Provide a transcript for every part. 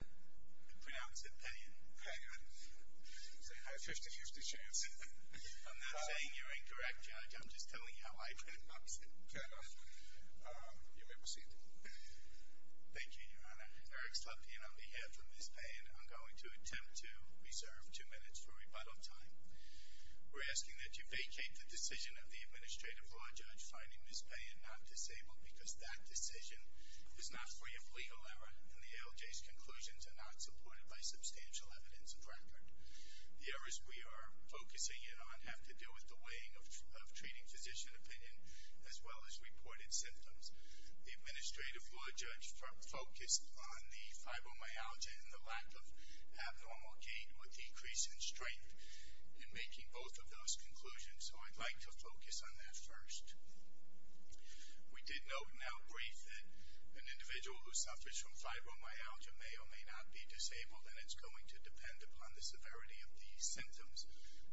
I pronounce it Payan. Payan. I have a 50-50 chance. I'm not saying you're incorrect, Judge. I'm just telling you how I transcribe it. Fair enough. You may proceed. Thank you, Your Honor. Eric Slutkin on behalf of Ms. Payan, I'm going to attempt to reserve two minutes for rebuttal time. We're asking that you vacate the decision of the administrative law judge finding Ms. Payan not disabled because that decision was not free of legal error in the ALJ's conclusion to not supported by substantial evidence of record. The errors we are focusing it on have to do with the weighing of treating physician opinion as well as reported symptoms. The administrative law judge focused on the fibromyalgia and the lack of abnormal gait with decrease in strength in making both of those conclusions, so I'd like to focus on that first. We did note in our brief that an individual who suffers from fibromyalgia may or may not be disabled, and it's going to depend upon the severity of the symptoms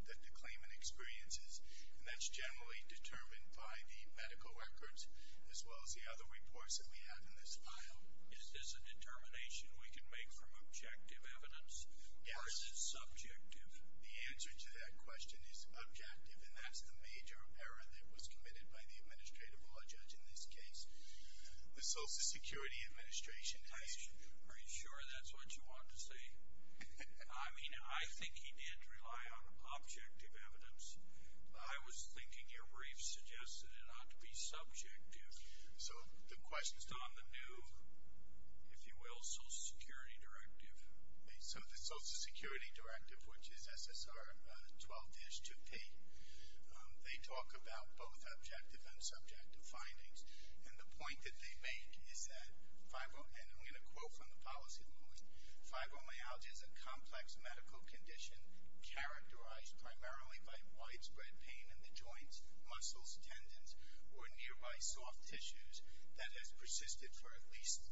that the claimant experiences, and that's generally determined by the medical records as well as the other reports that we have in this file. Is this a determination we can make from objective evidence versus subjective? The answer to that question is objective, and that's the major error that was committed by the administrative law judge in this case. The Social Security Administration has... Are you sure that's what you want to say? I mean, I think he did rely on objective evidence. I was thinking your brief suggested it ought to be subjective. So the question... It's on the new, if you will, Social Security Directive. So the Social Security Directive, which is SSR 12-2P, they talk about both objective and subjective findings, and the point that they make is that fibromyalgia, and I'm going to quote from the policy of the law, fibromyalgia is a complex medical condition characterized primarily by widespread pain in the joints, muscles, tendons, or nearby soft tissues that has persisted for at least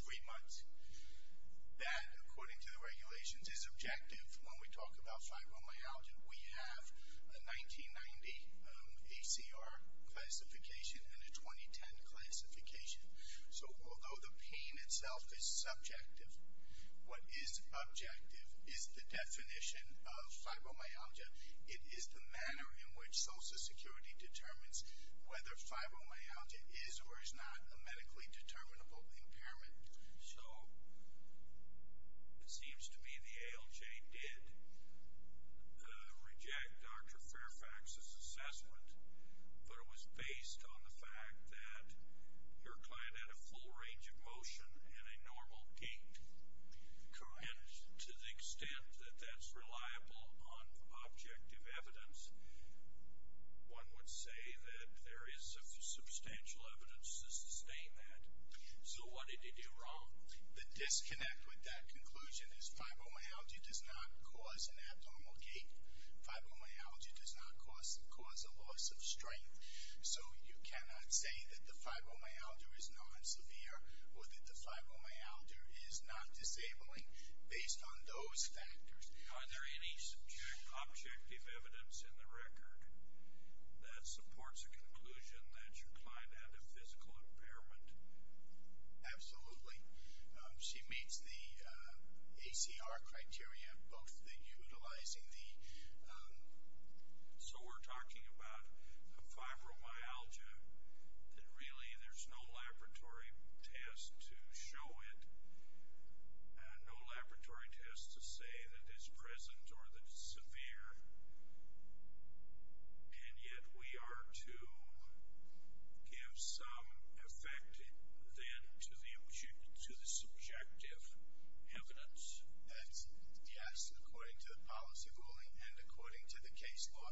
three months. That, according to the regulations, is objective when we talk about fibromyalgia. We have a 1990 ACR classification and a 2010 classification. So although the pain itself is subjective, what is objective is the definition of fibromyalgia. It is the manner in which Social Security determines whether fibromyalgia is or is not a medically determinable impairment. So it seems to me the ALJ did reject Dr. Fairfax's assessment, but it was based on the fact that your client had a full range of motion and a normal gait. And to the extent that that's reliable on objective evidence, one would say that there is substantial evidence to sustain that. So what did you do wrong? The disconnect with that conclusion is fibromyalgia does not cause an abnormal gait. Fibromyalgia does not cause a loss of strength. So you cannot say that the fibromyalgia is non-severe or that the fibromyalgia is not disabling based on those factors. Are there any subjective evidence in the record that supports the conclusion that your client had a physical impairment? Absolutely. She meets the ACR criteria, both the utilizing the... So we're talking about a fibromyalgia that really there's no laboratory test to show it. No laboratory test to say that it's present or that it's severe. And yet we are to give some effect then to the subjective evidence. That's, yes, according to the policy ruling and according to the case law.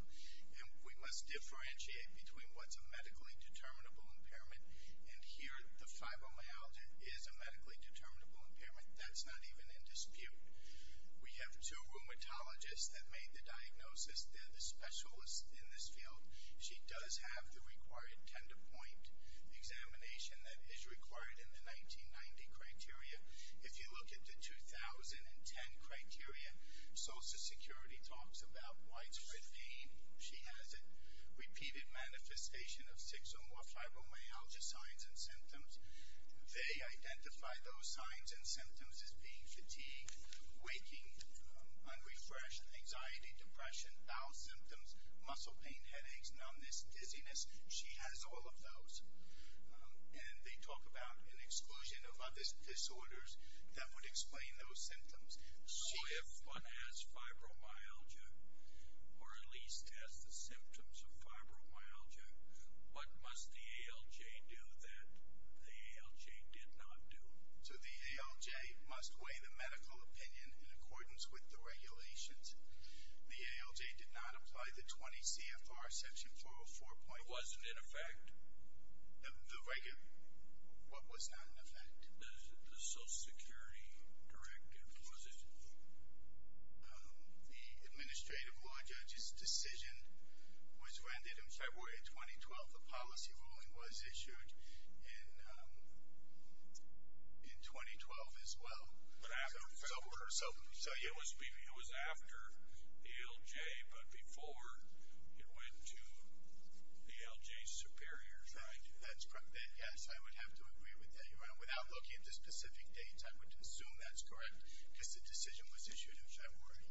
And we must differentiate between what's a medically determinable impairment. And here the fibromyalgia is a medically determinable impairment. That's not even in dispute. We have two rheumatologists that made the diagnosis. They're the specialists in this field. She does have the required tender point examination that is required in the 1990 criteria. If you look at the 2010 criteria, Social Security talks about widespread pain. She has a repeated manifestation of six or more fibromyalgia signs and symptoms. They identify those signs and symptoms as being fatigued, waking, unrefreshed, anxiety, depression, bowel symptoms, muscle pain, headaches, numbness, dizziness. She has all of those. And they talk about an exclusion of other disorders that would explain those symptoms. So if one has fibromyalgia, or at least has the symptoms of fibromyalgia, what must the ALJ do that the ALJ did not do? So the ALJ must weigh the medical opinion in accordance with the regulations. The ALJ did not apply the 20 CFR section 404. It wasn't in effect? The regu- what was not in effect? The Social Security Directive, was it? The Administrative Law Judge's decision was rendered in February of 2012. The policy ruling was issued in 2012 as well. But after February? So it was after ALJ, but before it went to ALJ Superior. That's correct. Yes, I would have to agree with that. Without looking at the specific dates, I would assume that's correct. Because the decision was issued in February.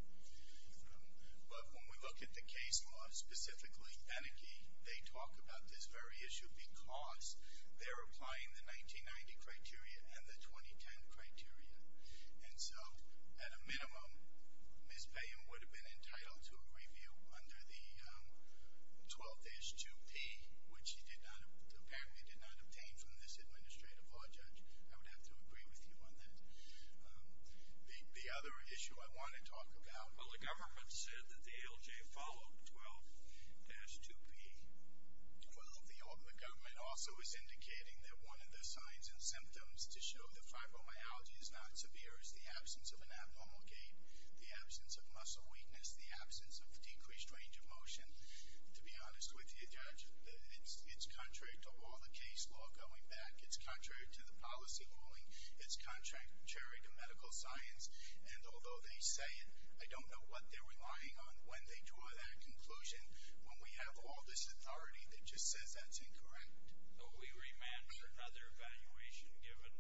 But when we look at the case law, specifically Enneke, they talk about this very issue because they're applying the 1990 criteria and the 2010 criteria. And so, at a minimum, Ms. Payne would have been entitled to a review under the 12-2P, which she did not- apparently did not obtain from this Administrative Law Judge. I would have to agree with you on that. The other issue I want to talk about- Well, the government said that the ALJ followed 12-2P. Well, the government also is indicating that one of the signs and symptoms to show that fibromyalgia is not severe is the absence of an abnormal gait, the absence of muscle weakness, the absence of decreased range of motion. To be honest with you, Judge, it's contrary to all the case law going back. It's contrary to the policy ruling. It's contrary to medical science. And although they say it, I don't know what they're relying on when they draw that conclusion when we have all this authority that just says that's incorrect. But we remand for another evaluation given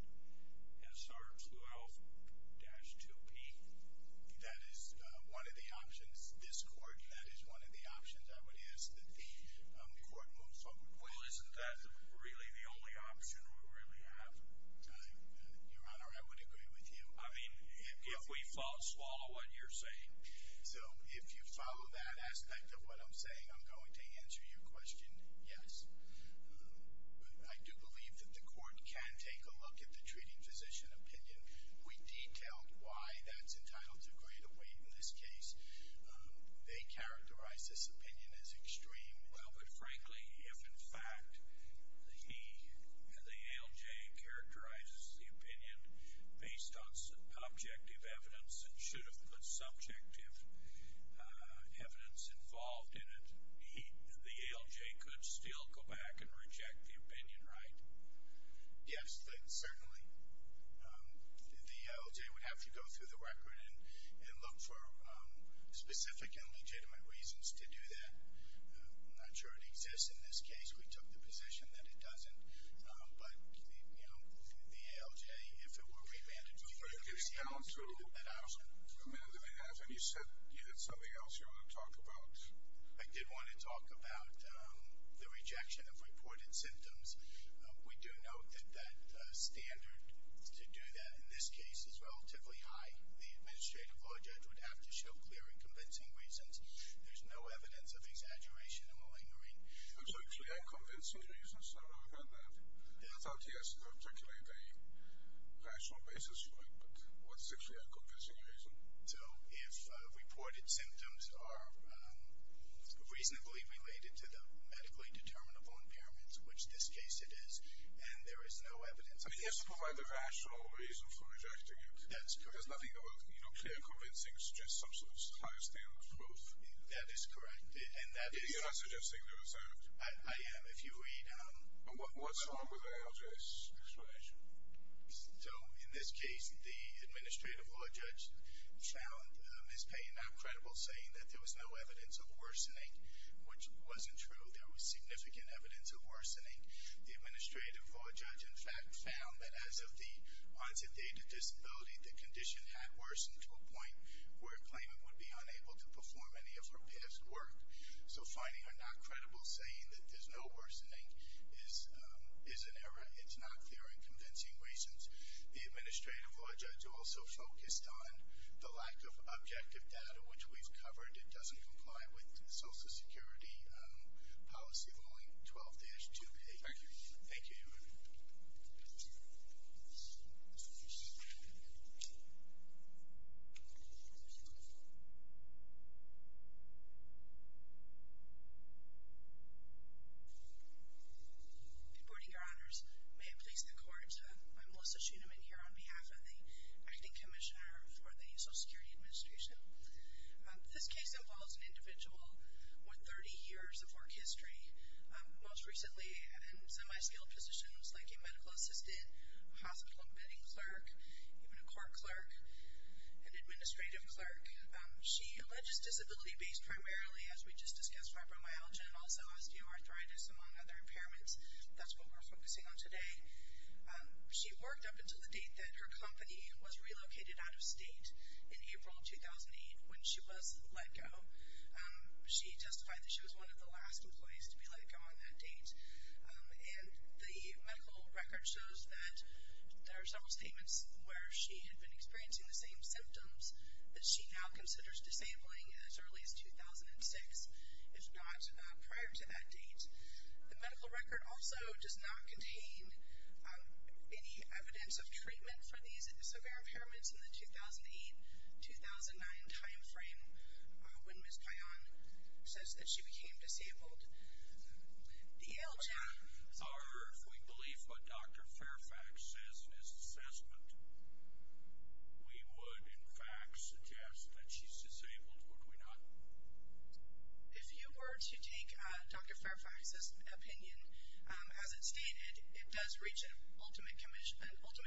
SR-12-2P. That is one of the options. This Court, that is one of the options I would ask that the Court moves on with. Well, isn't that really the only option we really have? Your Honor, I would agree with you. I mean, if we follow what you're saying. So, if you follow that aspect of what I'm saying, I'm going to answer your question, yes. I do believe that the Court can take a look at the treating physician opinion. We detailed why that's entitled to greater weight in this case. They characterize this opinion as extreme. Well, but frankly, if in fact the ALJ characterizes the opinion based on objective evidence and should have put subjective evidence involved in it, the ALJ could still go back and reject the opinion, right? Yes, certainly. The ALJ would have to go through the record and look for specific and legitimate reasons to do that. I'm not sure it exists in this case. We took the position that it doesn't. But, you know, the ALJ, if it were revanded... But it gets down to a minute and a half, and you said you had something else you wanted to talk about. I did want to talk about the rejection of reported symptoms. We do note that that standard to do that in this case is relatively high. The administrative law judge would have to show clear and convincing reasons. There's no evidence of exaggeration and malingering. So clear and convincing reasons? I don't know about that. I thought he has to articulate a rational basis for it. But what's a clear and convincing reason? So if reported symptoms are reasonably related to the medically determinable impairments, which in this case it is, and there is no evidence... He has to provide the rational reason for rejecting it. There's nothing about clear and convincing which suggests some sort of high standard of proof. That is correct. And that is... I am, if you read... What's wrong with the ALJ's explanation? So in this case, the administrative law judge found Ms. Payne not credible, saying that there was no evidence of worsening, which wasn't true. There was significant evidence of worsening. The administrative law judge, in fact, found that as of the onset date of disability, the condition had worsened to a point where a claimant would be unable to perform any of her past work. So finding her not credible, saying that there's no worsening, is an error. It's not clear and convincing reasons. The administrative law judge also focused on the lack of objective data, which we've covered. It doesn't comply with Social Security policy ruling 12-2A. Thank you. Thank you. Thank you. Good morning, Your Honors. May it please the Court, I'm Melissa Schuenemann here on behalf of the Acting Commissioner for the Social Security Administration. This case involves an individual with 30 years of work history, most recently in semi-skilled positions like a medical assistant, a hospital bedding clerk, even a court clerk, an administrative clerk. She alleges disability-based, primarily as we just discussed, fibromyalgia and also osteoarthritis among other impairments. That's what we're focusing on today. She worked up until the date that her company was relocated out of state in April 2008 when she was let go. She testified that she was one of the last employees to be let go on that date. And the medical record shows that there are several statements where she had been experiencing the same symptoms that she now considers disabling as early as 2006, if not prior to that date. The medical record also does not contain any evidence of treatment for these severe impairments in the 2008-2009 timeframe when Ms. Payan says that she became disabled. The ALJ are, if we believe what Dr. Fairfax says is assessment, we would, in fact, suggest that she's disabled. Would we not? If you were to take Dr. Fairfax's opinion, as it's stated, it does reach an ultimate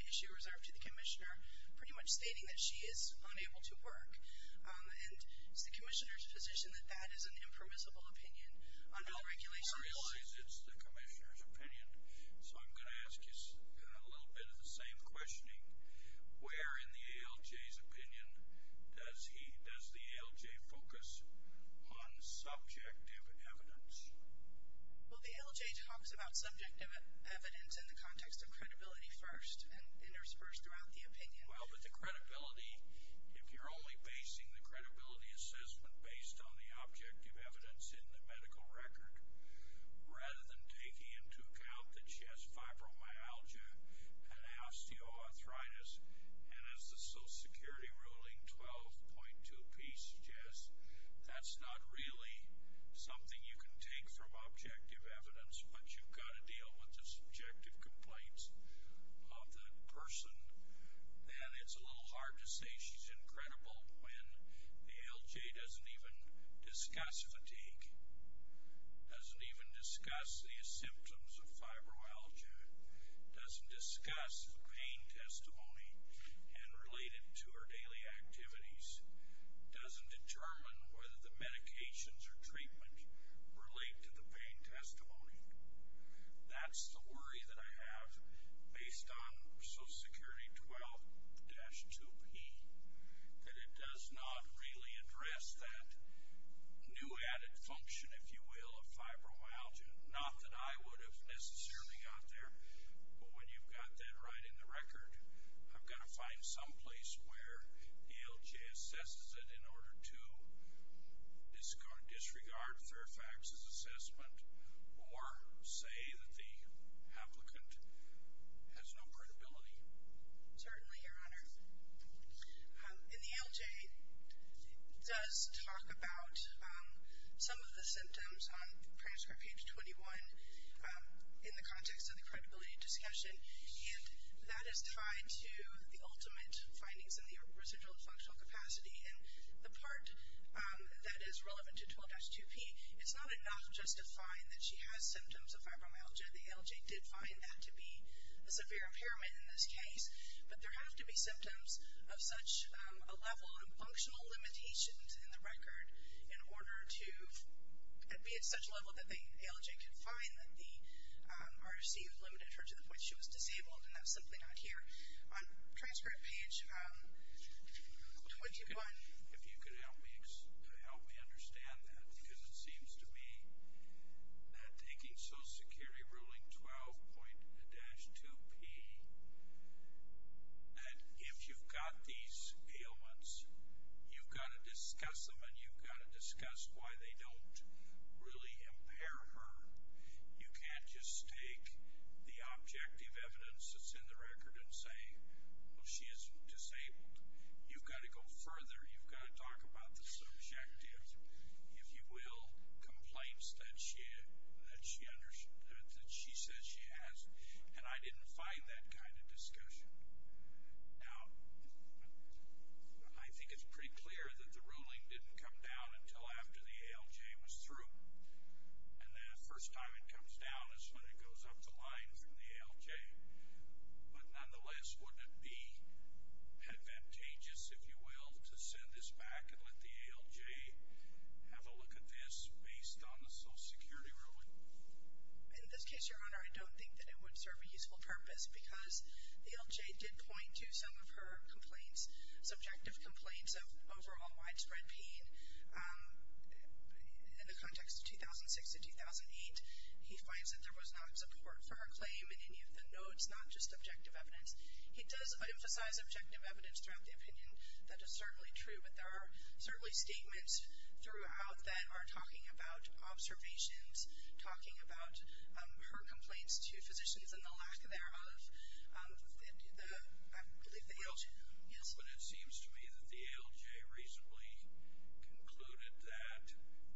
issue reserved to the commissioner, pretty much stating that she is unable to work. And is the commissioner's position that that is an impermissible opinion under the regulations? It's the commissioner's opinion. So I'm going to ask you a little bit of the same questioning. Where in the ALJ's opinion does he, does the ALJ focus on subjective evidence? Well, the ALJ talks about subjective evidence in the context of credibility first and interspersed throughout the opinion. Well, but the credibility, if you're only basing the credibility assessment based on the objective evidence in the medical record rather than taking into account that she has fibromyalgia and osteoarthritis and as the Social Security ruling 12.2 P suggests, that's not really something you can take from objective evidence but you've got to deal with the subjective complaints of the person. And it's a little hard to say she's incredible when the ALJ doesn't even discuss fatigue, doesn't even discuss the symptoms of fibromyalgia, doesn't discuss the pain testimony and relate it to her daily activities, doesn't determine whether the medications or treatment relate to the pain testimony. That's the worry that I have based on Social Security 12.2 P that it does not really address that new added function, if you will, of fibromyalgia. Not that I would have necessarily got there, but when you've got that right in the record I've got to find some place where the ALJ assesses it in order to disregard Fairfax's assessment or say that the applicant has no credibility. Certainly, Your Honor. In the ALJ does talk about some of the symptoms on transcript page 21 in the context of the credibility discussion and that is tied to the ultimate findings in the residual functional capacity and the part that is relevant to 12.2 P. It's not enough just to find that she has symptoms of fibromyalgia. The ALJ did find that to be a severe impairment in this case. But there have to be symptoms of such a level of functional limitations in the record in order to be at such a level that the ALJ could find that the RFC limited her to the point she was disabled and that's simply not here. On transcript page 21... If you could help me understand that, because it seems to me that taking Social Security ruling 12.2 P that if you've got these ailments, you've got to discuss them and you've got to discuss why they don't really impair her. You can't just take the objective evidence that's in the record and say she is disabled. You've got to go further. You've got to talk about the subjective if you will complaints that she says she has and I didn't find that kind of discussion. Now I think it's pretty clear that the ruling didn't come down until after the ALJ was through and the first time it comes down is when it goes up the line from the ALJ but nonetheless wouldn't it be advantageous if you will to send this back and let the ALJ have a look at this based on the Social Security ruling? In this case Your Honor I don't think that it would serve a useful purpose because the ALJ did point to some of her complaints subjective complaints of overall widespread pain in the context of 2006-2008 he finds that there was not support for her claim in any of the notes, not just objective evidence he does emphasize objective evidence throughout the opinion that is certainly true but there are certainly statements throughout that are talking about observations talking about her complaints to physicians and the lack thereof I believe the ALJ But it seems to me that the ALJ recently concluded that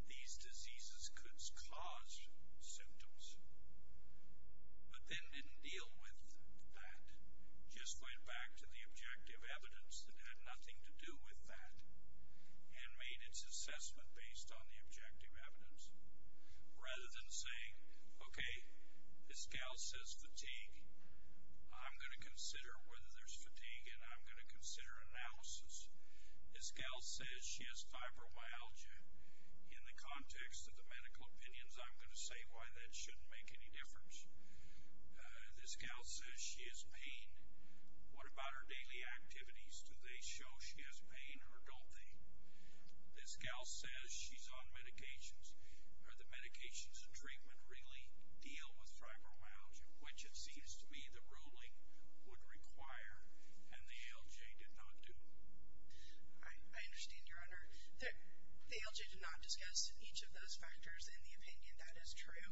these diseases could cause symptoms but then didn't deal with that just went back to the objective evidence that had nothing to do with that and made its assessment based on the objective evidence rather than saying this gal says fatigue I'm going to consider whether there's fatigue and I'm going to consider analysis this gal says she has fibromyalgia in the context of the medical opinions I'm going to say why that shouldn't make any difference this gal says she has pain what about her daily activities do they show she has pain or don't they this gal says she's on medications are the medications and treatment really deal with fibromyalgia which it seems to me the ruling would require and the ALJ did not do I understand your honor the ALJ did not discuss each of those factors in the opinion that is true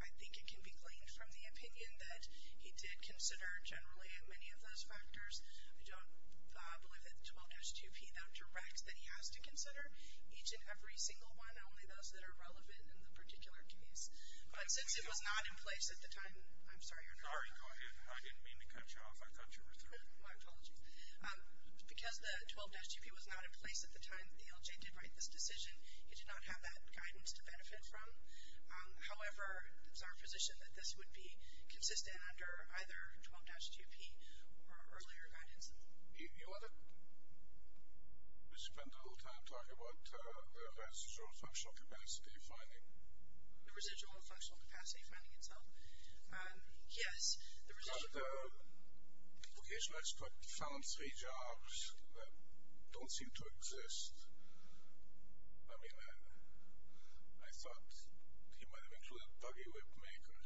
I think it can be gleaned from the opinion that he did consider generally many of those factors I don't believe that the 12-2p directs that he has to consider each and every single one only those that are relevant in the particular case but since it was not in place at the time I didn't mean to cut you off I thought you were through because the 12-2p was not in place at the time the ALJ did write this decision it did not have that guidance to benefit from however it's our position that this would be consistent under either 12-2p or earlier guidance you want to spend a little time talking about the residual functional capacity finding the residual functional capacity finding itself yes found three jobs that don't seem to exist I mean I thought buggy whip maker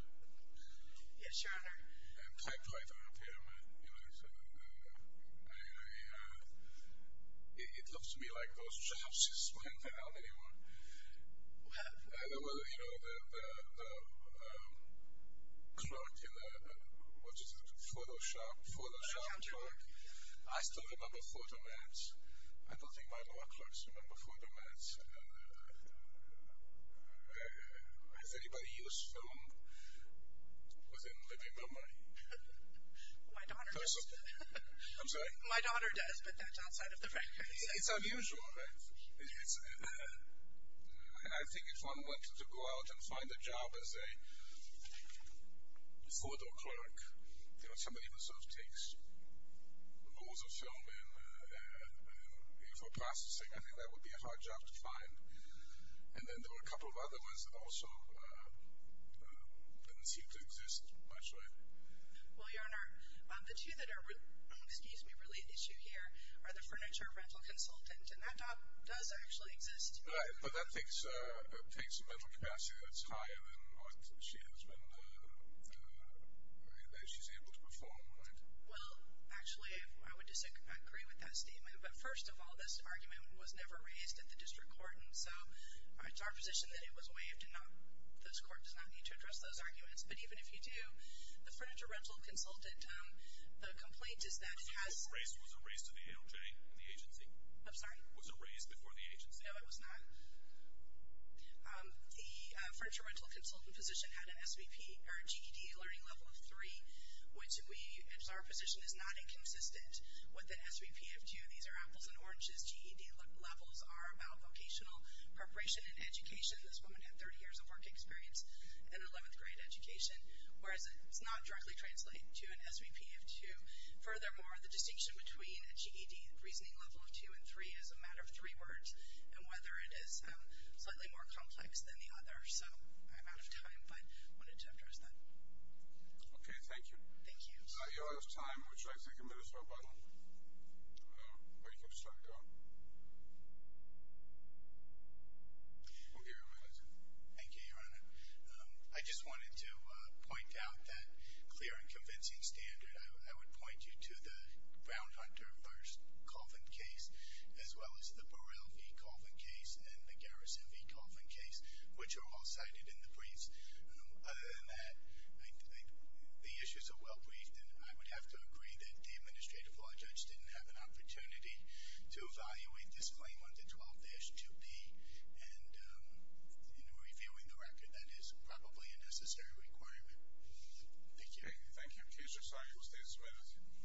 yes your honor and typewriter repairman I it looks to me like those jobs just went down anymore well you know the what is it photoshop I still remember photomats I don't think my law clerks remember photomats has anybody use film within living memory my daughter I'm sorry my daughter does but that's outside of the record it's unusual I think if one wanted to go out and find a job as a four door clerk somebody who sort of takes rolls of film for processing I think that would be a hard job to find and then there were a couple of other ones that also didn't seem to exist actually well your honor the two that are really an issue here are the furniture rental consultant and that job does actually exist but that takes a mental capacity that's higher than what she has been you know able to perform well actually I would disagree with that statement but first of all this argument was never raised at the district court so it's our position that it was waived and those court does not need to address those arguments but even if you do the furniture rental consultant the complaint is that it has was it raised to the ALJ? I'm sorry no it was not the furniture rental consultant position had an SVP or GED learning level of 3 which is our position is not inconsistent with the SVP these are apples and oranges GED levels are about vocational preparation and education this woman had 30 years of work experience in 11th grade education whereas it does not directly translate to an SVP of 2 furthermore the distinction between a GED reasoning level of 2 and 3 is a matter of 3 words and whether it is slightly more complex than the other so I'm out of time but wanted to address that okay thank you thank you I'm sorry you're out of time would you like to take a minute or so but or you can just let it go okay your honor thank you your honor I just wanted to point out that clear and convincing standard I would point you to the Brown Hunter first coffin case as well as the Burrell v. Coffin case and the Garrison v. Coffin case which are all cited in the briefs other than that the issues are well briefed and I would have to agree that the administrative law judge didn't have an opportunity to evaluate this claim under 12-2B and reviewing the record that is probably a necessary requirement thank you